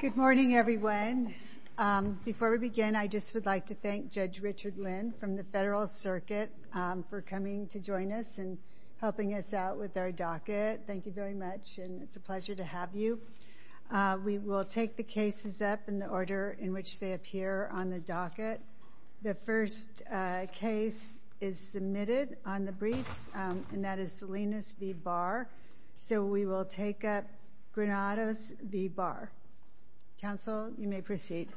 Good morning, everyone. Before we begin, I just would like to thank Judge Richard Lynn from the Federal Circuit for coming to join us and helping us out with our docket. Thank you very much, and it's a pleasure to have you. We will take the cases up in the order in which they appear on the docket. The first case is submitted on the briefs, and that is Salinas v. Barr. So we will take up Granados v. Barr. Counsel, you may proceed.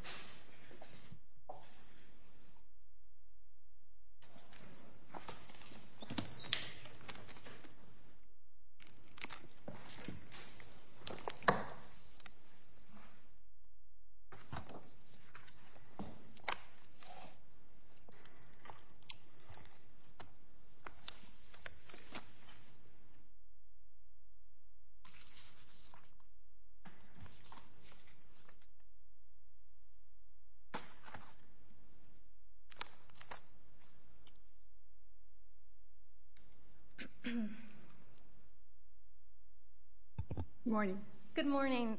Good morning.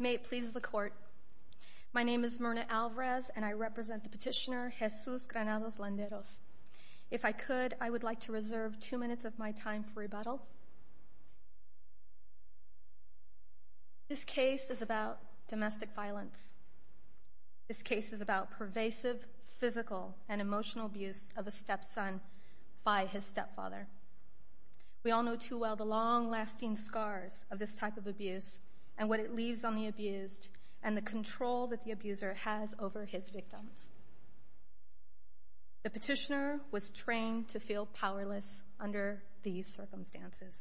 May it please the Court. My name is Myrna Alvarez, and I represent the petitioner, Jesus Granados-Landros. If I could, I would like to reserve two minutes of my time for rebuttal. This case is about domestic violence. This case is about pervasive, physical, and emotional abuse of a stepson by his stepfather. We all know too well the long-lasting scars of this type of abuse and what it leaves on the abused and the control that the abuser has over his victims. The petitioner was trained to feel powerless under these circumstances.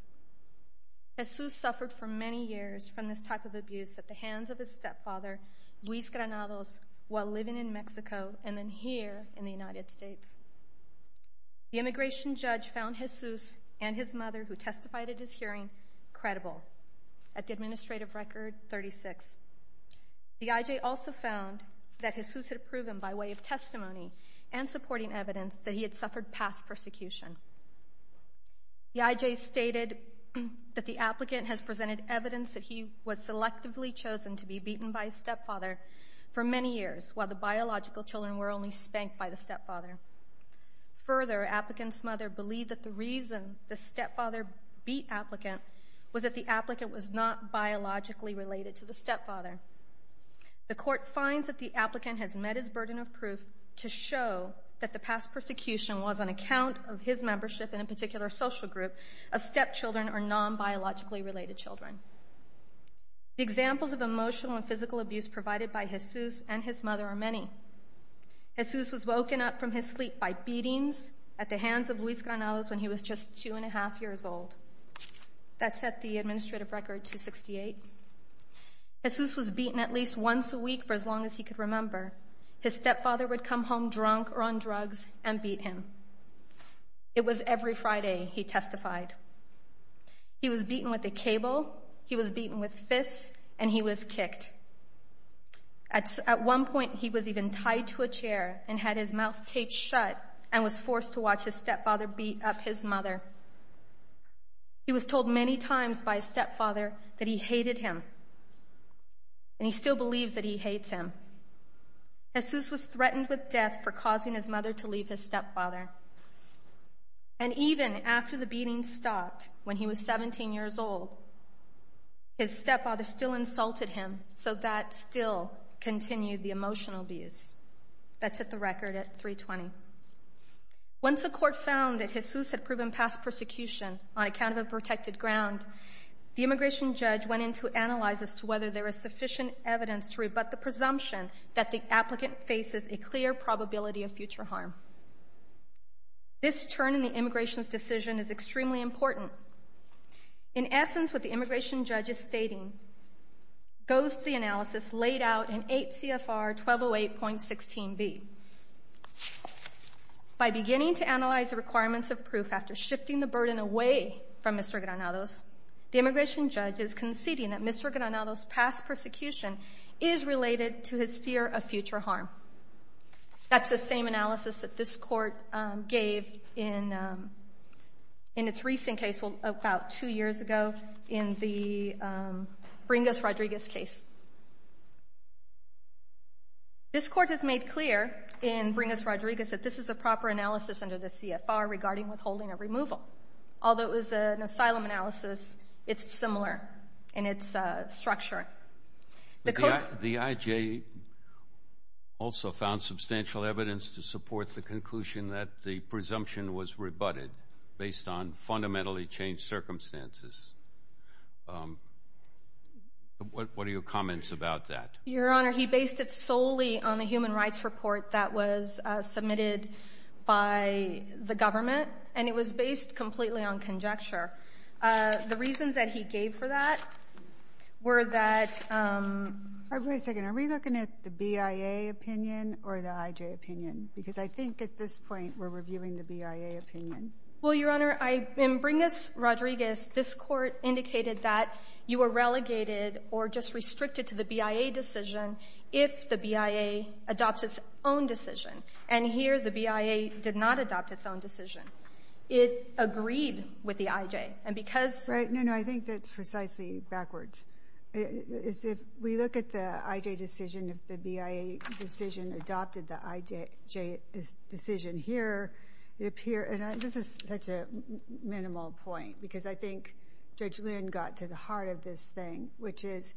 Jesus suffered for many years from this type of abuse at the hands of his stepfather, Luis Granados, while living in Mexico and then here in the United States. The immigration judge found Jesus and his mother, who testified at his hearing, credible at the administrative record 36. The IJ also found that Jesus had proven by way of testimony and supporting evidence that he had suffered past persecution. The IJ stated that the applicant has presented evidence that he was selectively chosen to be beaten by his stepfather for many years, while the biological children were only spanked by the stepfather. Further, the applicant's mother believed that the reason the stepfather beat the applicant was that the applicant was not biologically related to the stepfather. The Court finds that the applicant has met his burden of proof to show that the past persecution was on account of his membership in a particular social group of stepchildren or non-biologically related children. The examples of emotional and physical abuse provided by Jesus and his mother are many. Jesus was woken up from his sleep by beatings at the hands of Luis Granados when he was just two and a half years old. That set the administrative record to 68. Jesus was beaten at least once a week for as long as he could remember. His stepfather would come home drunk or on drugs and beat him. It was every Friday he testified. He was beaten with a cable, he was beaten with fists, and he was kicked. At one point, he was even tied to a chair and had his mouth taped shut and was forced to watch his stepfather beat up his mother. He was told many times by his stepfather that he hated him, and he still believes that he hates him. Jesus was threatened with death for causing his mother to leave his stepfather. And even after the beating stopped when he was 17 years old, his stepfather still insulted him, so that still continued the emotional abuse. That set the record at 320. Once the Court found that Jesus had proven past persecution on account of a protected ground, the immigration judge went in to analyze as to whether there is sufficient evidence to rebut the presumption that the applicant faces a clear probability of future harm. This turn in the immigration's decision is extremely important. In essence, what the immigration judge is stating goes to the analysis laid out in 8 CFR 1208.16b. By beginning to analyze the requirements of proof after shifting the burden away from Mr. Granados, the immigration judge is conceding that Mr. Granados' past persecution is related to his fear of future harm. That's the same analysis that this Court gave in its recent case, about two years ago, in the Bringas-Rodriguez case. This Court has made clear in Bringas- Rodriguez that this is a proper analysis under the CFR regarding withholding or removal. Although it was an asylum analysis, it's similar in its structuring. The IJ also found substantial evidence to support the conclusion that the presumption was rebutted based on fundamentally changed circumstances. What are your comments about that? Your Honor, he based it solely on the human rights report that was submitted by the government, and it was based completely on conjecture. The reasons that he gave for that were that... Wait a second. Are we looking at the BIA opinion or the IJ opinion? Because I think at this point we're reviewing the BIA opinion. Well, Your Honor, in Bringas-Rodriguez, this Court indicated that you were relegated or just restricted to the BIA decision if the BIA adopts its own decision. And here, the BIA did not adopt its own decision. It agreed with the IJ. And because... Right. No, no. I think that's precisely backwards. If we look at the IJ decision, if the BIA decision adopted the IJ decision here, it appear... And this is such a minimal point, because I think Judge Lynn got to the heart of this thing, which is,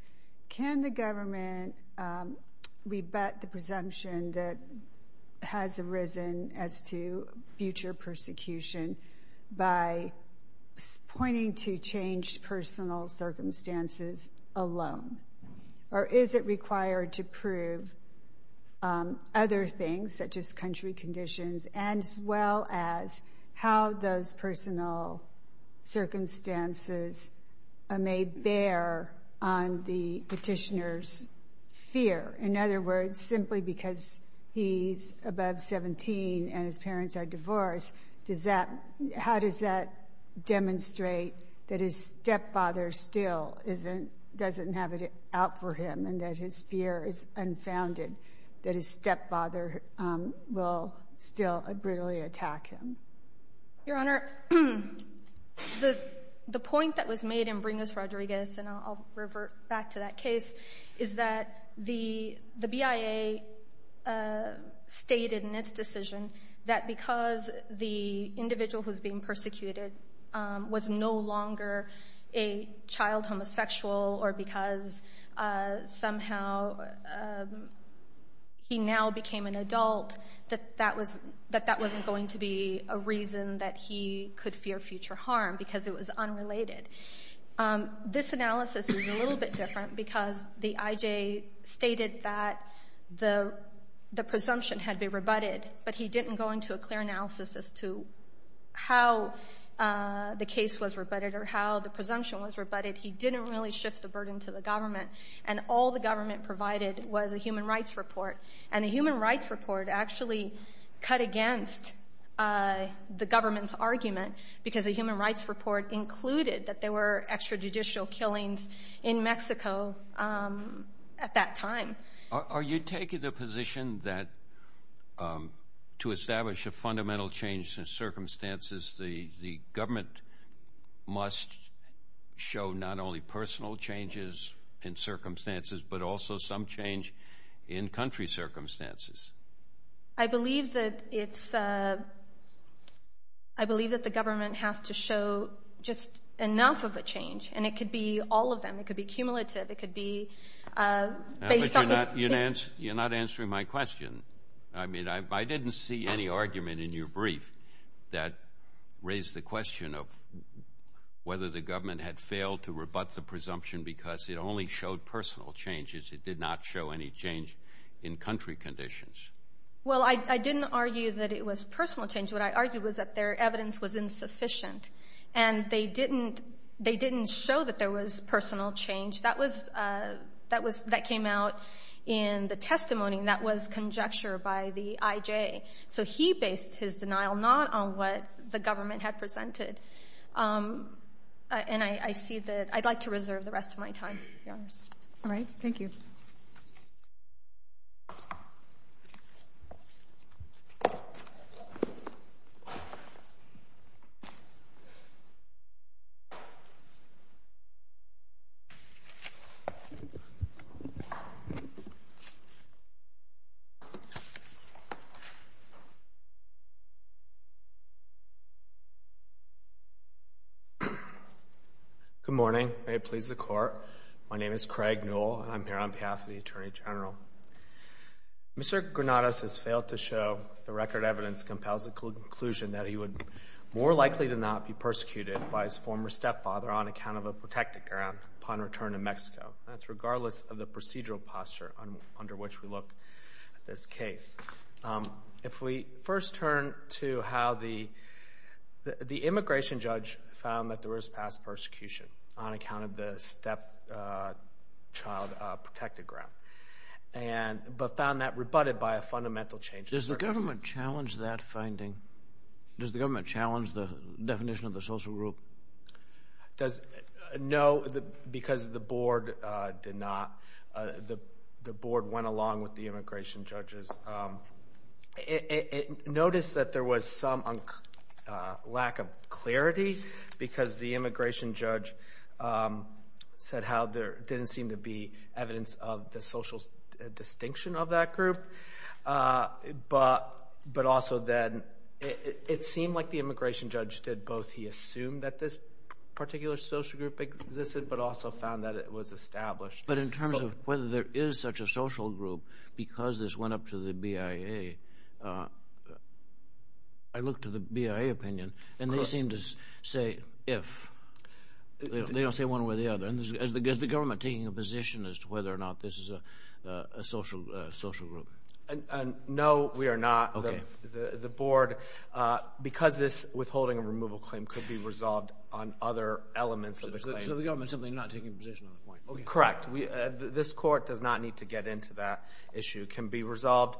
can the government rebut the presumption that has arisen as to future persecution by pointing to changed personal circumstances alone? Or is it required to prove other things, such as country conditions, as well as how those personal circumstances may bear on the petitioner's fear? In other words, simply because he's above 17 and his parents are divorced, does that — how does that demonstrate that his stepfather still isn't — doesn't have it out for him, and that his fear is unfounded, that his stepfather will still brutally attack him? Your Honor, the point that was made in Bringas-Rodriguez — and I'll revert back to that case — is that the BIA stated in its decision that because the individual who's being persecuted was no longer a child homosexual, or because somehow he now became an adult, that that wasn't going to be a reason that he could fear future harm, because it was unrelated. This analysis is a little bit different, because the IJ stated that the presumption had been rebutted, but he didn't go into a clear analysis as to how the case was rebutted or how the presumption was rebutted. He didn't really shift the burden to the government, and all the government provided was a human rights report. And the human rights report actually cut against the government's argument, because the human rights report included that there were extrajudicial killings in Mexico at that time. Are you taking the position that to establish a fundamental change in circumstances, the government must show not only personal changes in circumstances, but also some change in — I believe that the government has to show just enough of a change, and it could be all of them. It could be cumulative. It could be based on — But you're not answering my question. I mean, I didn't see any argument in your brief that raised the question of whether the government had failed to rebut the presumption because it only showed personal changes. It did not show any change in country conditions. Well, I didn't argue that it was personal change. What I argued was that their evidence was insufficient, and they didn't — they didn't show that there was personal change. That was — that was — that came out in the testimony, and that was conjecture by the I.J. So he based his denial not on what the government had presented. And I see that — I'd like to reserve the rest of my time, Your Honors. All right. Thank you. Thank you. Good morning. May it please the Court. My name is Craig Newell, and I'm here on to show the record evidence compels the conclusion that he would more likely to not be persecuted by his former stepfather on account of a protected ground upon return to Mexico. That's regardless of the procedural posture under which we look at this case. If we first turn to how the — the immigration judge found that there was past persecution on account of the stepchild protected ground and — but Does the government challenge that finding? Does the government challenge the definition of the social group? Does — no, because the board did not. The board went along with the immigration judges. Notice that there was some lack of clarity because the immigration judge said how there didn't seem to be evidence of the social distinction of that group. But also then, it seemed like the immigration judge did both. He assumed that this particular social group existed, but also found that it was established. But in terms of whether there is such a social group because this went up to the BIA, I looked to the BIA opinion, and they seem to say if. They don't say one way or the other. And is the government taking a position as to whether or not this is a social group? No, we are not. The board — because this withholding and removal claim could be resolved on other elements of the claim. So the government's simply not taking a position on the point? Correct. This court does not need to get into that issue. It can be resolved.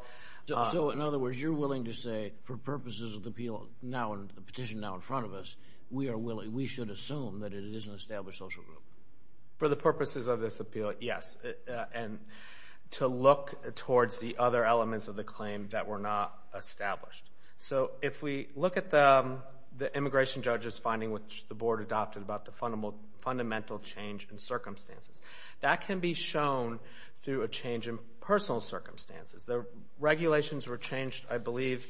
So in other words, you're willing to say for purposes of the appeal now and the petition now in front of us, we are willing — we should assume that it is an established social group? For the purposes of this appeal, yes. And to look towards the other elements of the claim that were not established. So if we look at the immigration judge's finding, which the board adopted about the fundamental change in circumstances, that can be shown through a change in personal circumstances. The regulations were changed, I believe,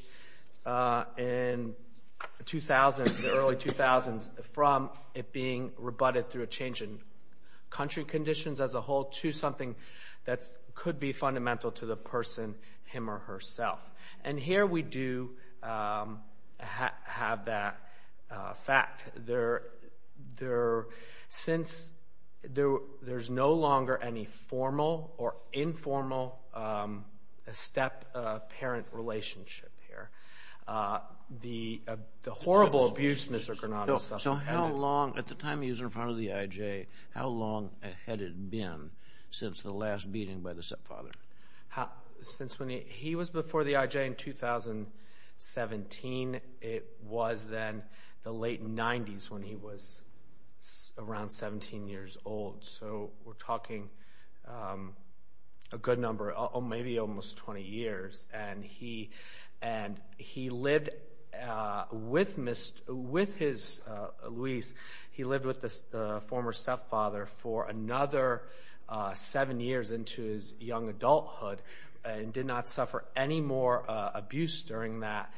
in the early 2000s from it being rebutted through a change in country conditions as a whole to something that could be fundamental to the person, him or herself. And here we do have that fact. Since there's no longer any formal or informal step-parent relationship here, the horrible abuse Mr. Granato suffered — At the time he was in front of the I.J., how long had it been since the last beating by the stepfather? He was before the I.J. in 2017. It was then the late 90s when he was around 17 years old. We're talking a good number, maybe almost 20 years. With Luis, he lived with the former stepfather for another seven years into his young adulthood and did not suffer any more abuse during that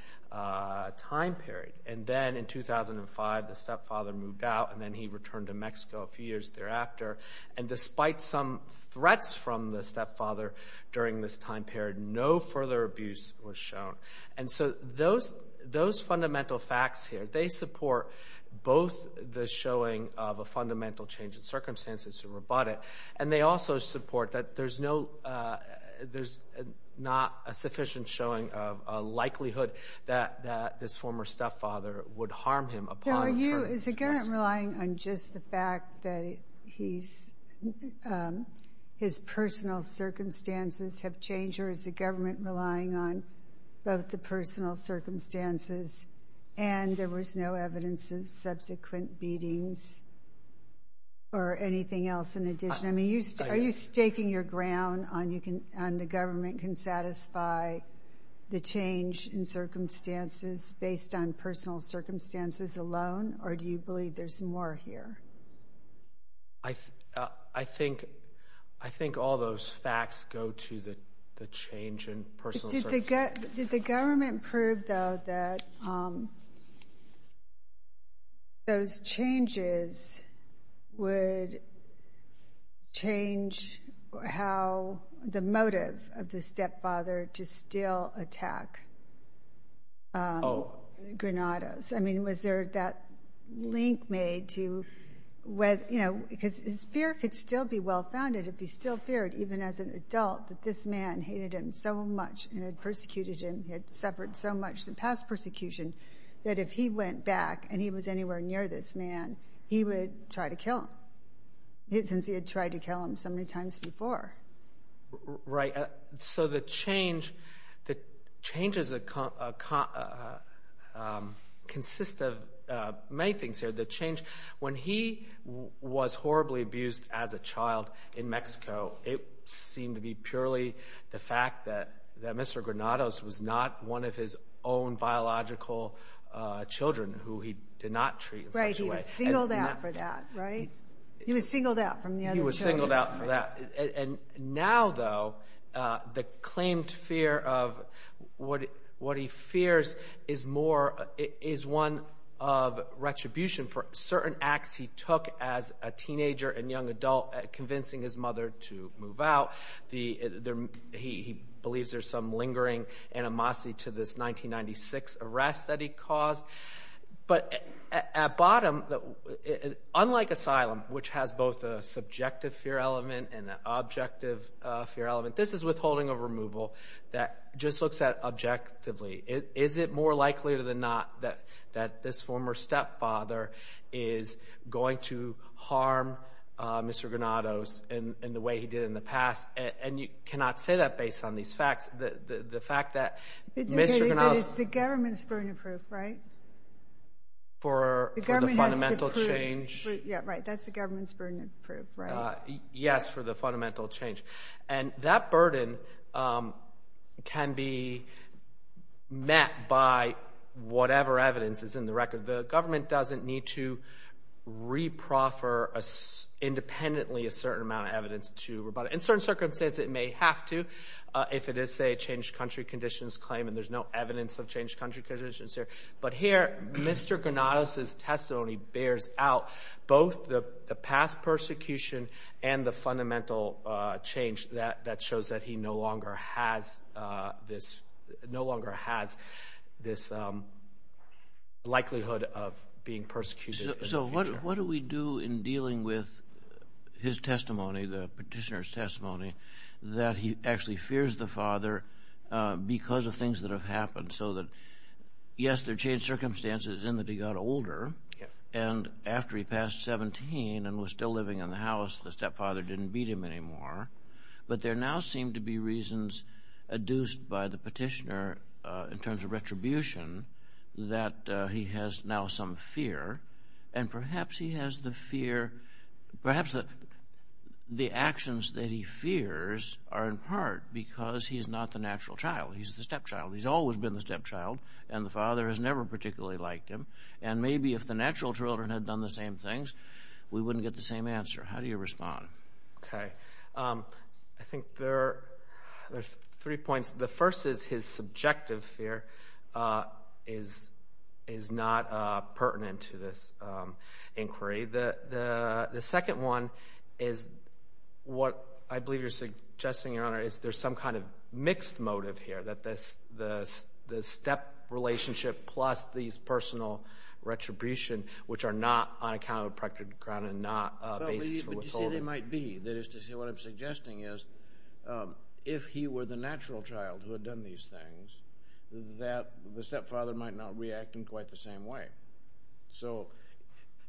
time period. And then in 2005, the stepfather moved out and then he returned to Mexico a few years thereafter. Despite some threats from the stepfather during this time period, no further abuse was shown. And so those fundamental facts here, they support both the showing of a fundamental change in circumstances to rebut it, and they also support that there's not a sufficient showing of a likelihood that this former stepfather would harm him. Is the government relying on just the fact that his personal circumstances have changed, or is the government relying on both the personal circumstances and there was no evidence of subsequent beatings or anything else in addition? I mean, are you staking your ground on the government can satisfy the change in circumstances based on personal circumstances alone, or do you believe there's more here? I think all those facts go to the change in personal circumstances. Did the government prove, though, that those changes would change the motive of the stepfather to still attack Granados? I mean, was there that link made to, you know, because his fear could still be well-founded if he still feared, even as an adult, that this man hated him so much and had persecuted him, had suffered so much in past persecution that if he went back and he was anywhere near this man, he would try to kill him, since he had tried to kill him so many times before. Right. So the change, the changes consist of many things here. When he was horribly abused as a child in Mexico, it seemed to be purely the fact that Mr. Granados was not one of his own biological children who he did not treat in such a way. Right. He was singled out for that, right? He was singled out from the other children. He was singled out for that. And now, though, the claimed fear of what he fears is more, is one of retribution for certain acts he took as a teenager and young adult convincing his mother to move out. He believes there's some lingering animosity to this 1996 arrest that he caused. But at bottom, unlike asylum, which has both a subjective fear element and an objective fear element, this is withholding of removal that just looks at objectively. Is it more he did in the past? And you cannot say that based on these facts. The fact that Mr. Granados... But it's the government's burden of proof, right? For the fundamental change. Yeah, right. That's the government's burden of proof, right? Yes, for the fundamental change. And that burden can be met by whatever evidence is in the record. The government doesn't need to re-proffer independently a certain amount of evidence to rebut it. In certain circumstances, it may have to, if it is, say, a changed country conditions claim, and there's no evidence of changed country conditions here. But here, Mr. Granados' testimony bears out both the past persecution and the fundamental change that shows he no longer has this likelihood of being persecuted in the future. So what do we do in dealing with his testimony, the petitioner's testimony, that he actually fears the father because of things that have happened? So that, yes, there are changed circumstances in that he got older, and after he passed 17 and was living in the house, the stepfather didn't beat him anymore. But there now seem to be reasons adduced by the petitioner in terms of retribution that he has now some fear. And perhaps he has the fear, perhaps the actions that he fears are in part because he's not the natural child. He's the stepchild. He's always been the stepchild, and the father has never particularly liked him. And maybe if the natural children had done the same things, we wouldn't get the same answer. How do you respond? Okay. I think there's three points. The first is his subjective fear is not pertinent to this inquiry. The second one is what I believe you're suggesting, Your Honor, is there's some kind of mixed motive here, that the step relationship plus these grounds are not a basis for withholding? You see, there might be. That is to say, what I'm suggesting is if he were the natural child who had done these things, that the stepfather might not react in quite the same way.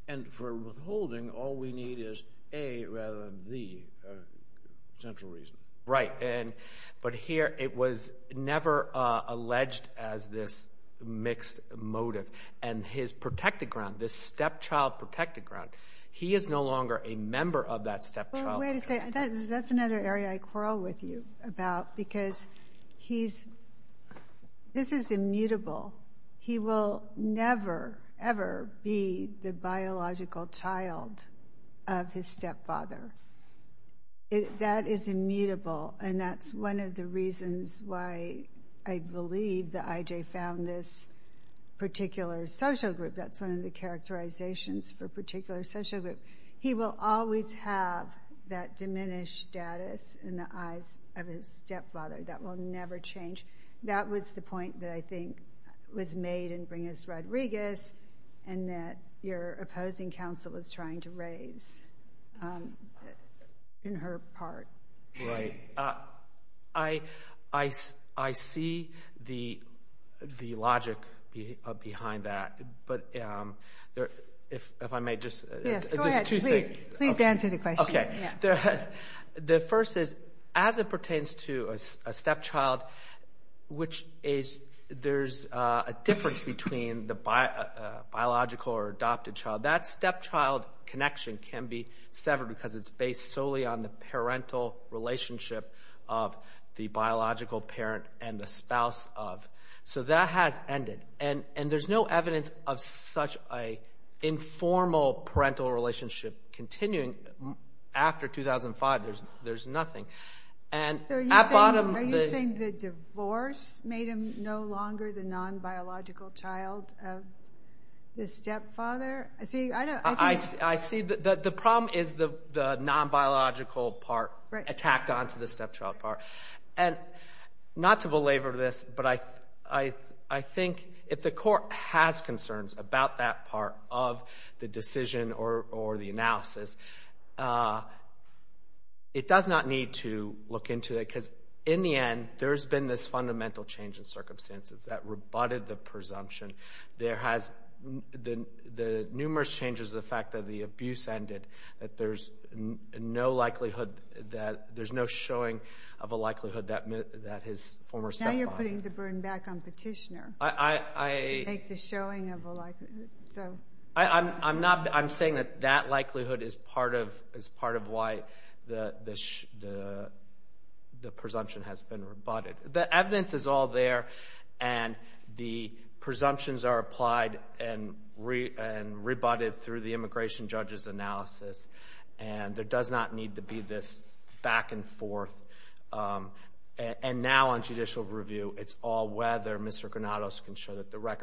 And for withholding, all we need is a rather than the central reason. Right. But here, it was never alleged as this ground. He is no longer a member of that stepchild. Well, wait a second. That's another area I quarrel with you about, because this is immutable. He will never, ever be the biological child of his stepfather. That is immutable, and that's one of the reasons why I believe that I.J. found this particular social group. That's one of the characterizations for particular social group. He will always have that diminished status in the eyes of his stepfather. That will never change. That was the point that I think was made in Bringus Rodriguez, and that your the logic behind that. But if I may just. Yes, go ahead. Please answer the question. Okay. The first is, as it pertains to a stepchild, which is there's a difference between the biological or adopted child. That stepchild connection can be severed because it's based solely on the parental relationship of the biological parent and the spouse of. So that has ended, and there's no evidence of such an informal parental relationship continuing after 2005. There's nothing. Are you saying the divorce made him no longer the non-biological child of the stepfather? I see that the problem is the non-biological part attacked onto the stepchild part. And not to belabor this, but I think if the court has concerns about that part of the decision or the analysis, it does not need to look into it, because in the end, there's been this fundamental change in circumstances that rebutted the presumption. There has been the numerous changes, the fact that the abuse ended, that there's no likelihood that there's no showing of a likelihood that his former stepfather. Now you're putting the burden back on Petitioner to make the showing of a likelihood. I'm saying that that likelihood is part of why the presumption has been rebutted. The evidence is all there, and the presumptions are applied and rebutted through the immigration judge's analysis. And there does not need to be this back and forth. And now on judicial review, it's all whether Mr. Granados can show that the Thank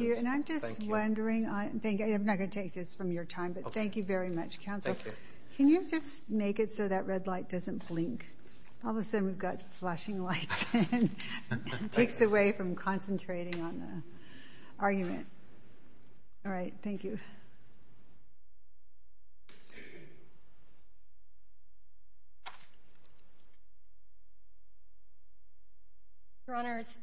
you. And I'm just wondering, I'm not going to take this from your time, but thank you very much, counsel. Can you just make it so that red light doesn't blink? All of a sudden, we've got flashing lights. It takes away from concentrating on the argument. All right, thank you. Your Honors,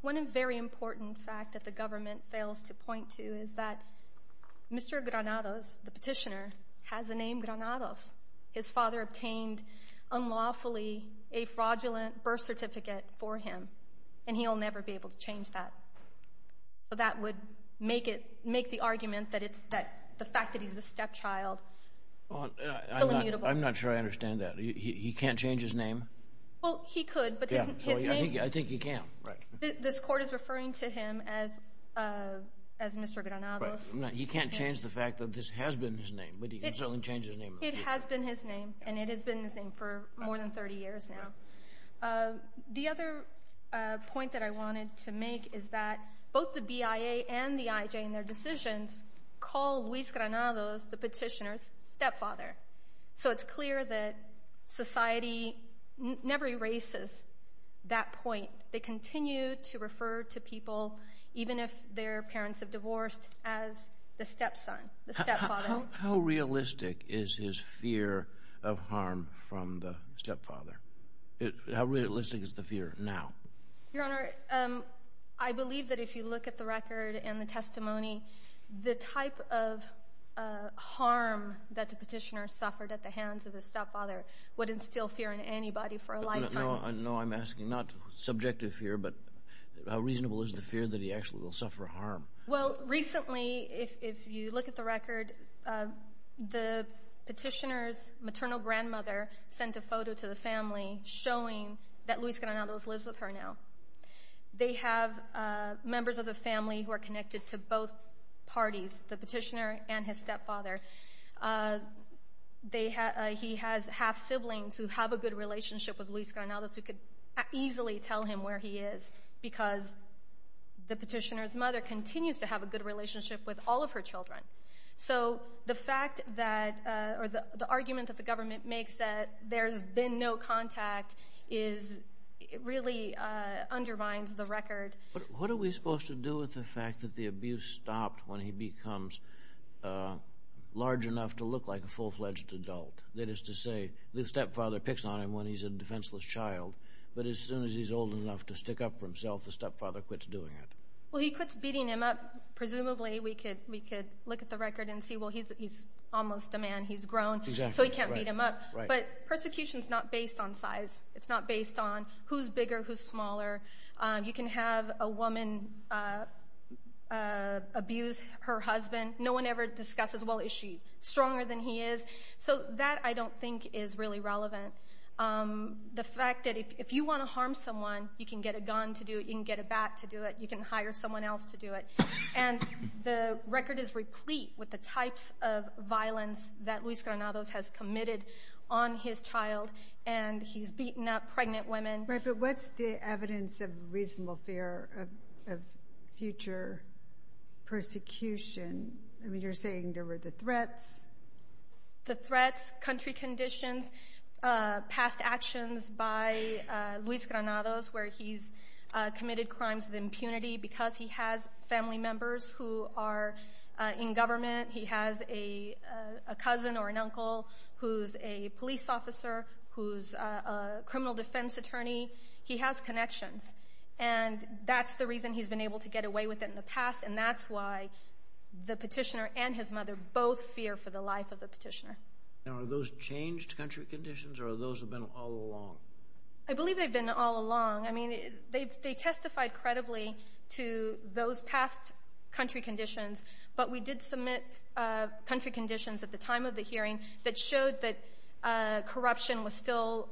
one very important fact that the government fails to point to is that Mr. Granados, the petitioner, has the name Granados. His father obtained unlawfully a fraudulent birth certificate for him, and he'll never be able to change that. So that would make the argument that the fact that he's a stepchild I'm not sure I understand that. He can't change his name? Well, he could, but his name I think he can, right. This court is referring to him as Mr. Granados. He can't change the fact that this has been his name, but he can certainly change his name. It has been his name, and it has been his name for more than 30 years now. The other point that I wanted to make is that both the BIA and the IJ in their decisions call Luis Granados, the petitioner's stepfather. So it's clear that society never erases that point. They continue to refer to people, even if their parents have divorced, as the stepson, the stepfather. How realistic is his fear of harm from the stepfather? How realistic is the fear now? Your Honor, I believe that if you look at the record and the testimony, the type of harm that the petitioner suffered at the hands of his stepfather would instill fear in anybody for a lifetime. No, I'm asking not subjective fear, but how reasonable is the fear that he actually will suffer harm? Well, recently, if you look at the record, the petitioner's maternal grandmother sent a photo to the family showing that Luis Granados lives with her now. They have members of the family who are connected to both parties, the petitioner and his stepfather. He has half-siblings who have a good relationship with Luis Granados who could easily tell him where he is because the petitioner's mother continues to have a good relationship with all of her children. So the argument that the government makes that there's been no contact really undermines the record. What are we supposed to do with the fact that the abuse stopped when he becomes large enough to look like a full-fledged adult? That is to say, the stepfather picks on him when he's old enough to stick up for himself, the stepfather quits doing it. Well, he quits beating him up. Presumably, we could look at the record and see, well, he's almost a man. He's grown, so he can't beat him up. But persecution is not based on size. It's not based on who's bigger, who's smaller. You can have a woman abuse her husband. No one ever discusses, well, is she stronger than he is? So that, I don't think, is really relevant. The fact that if you want to harm someone, you can get a gun to do it. You can get a bat to do it. You can hire someone else to do it. And the record is replete with the types of violence that Luis Granados has committed on his child. And he's beaten up pregnant women. Right, but what's the evidence of reasonable fear of future persecution? I mean, you're saying there were the threats. The threats, country conditions, past actions by Luis Granados where he's committed crimes of impunity because he has family members who are in government. He has a cousin or an uncle who's a police officer, who's a criminal defense attorney. He has connections. And that's the reason he's been able to get away with it in the past. And that's why the petitioner and his mother both fear for the life of the petitioner. And are those changed country conditions or those have been all along? I believe they've been all along. I mean, they testified credibly to those past country conditions. But we did submit country conditions at the time of the hearing that showed that corruption was still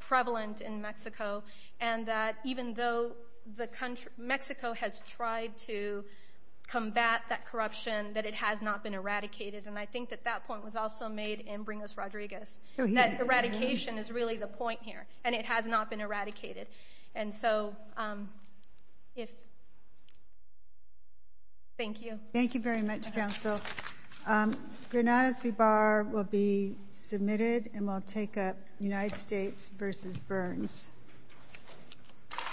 prevalent in Mexico. And that even though Mexico has tried to that it has not been eradicated. And I think that that point was also made in Bring Us Rodriguez. That eradication is really the point here. And it has not been eradicated. And so, thank you. Thank you very much, counsel. Granados V. Barr will be submitted and will take up United States v. Burns.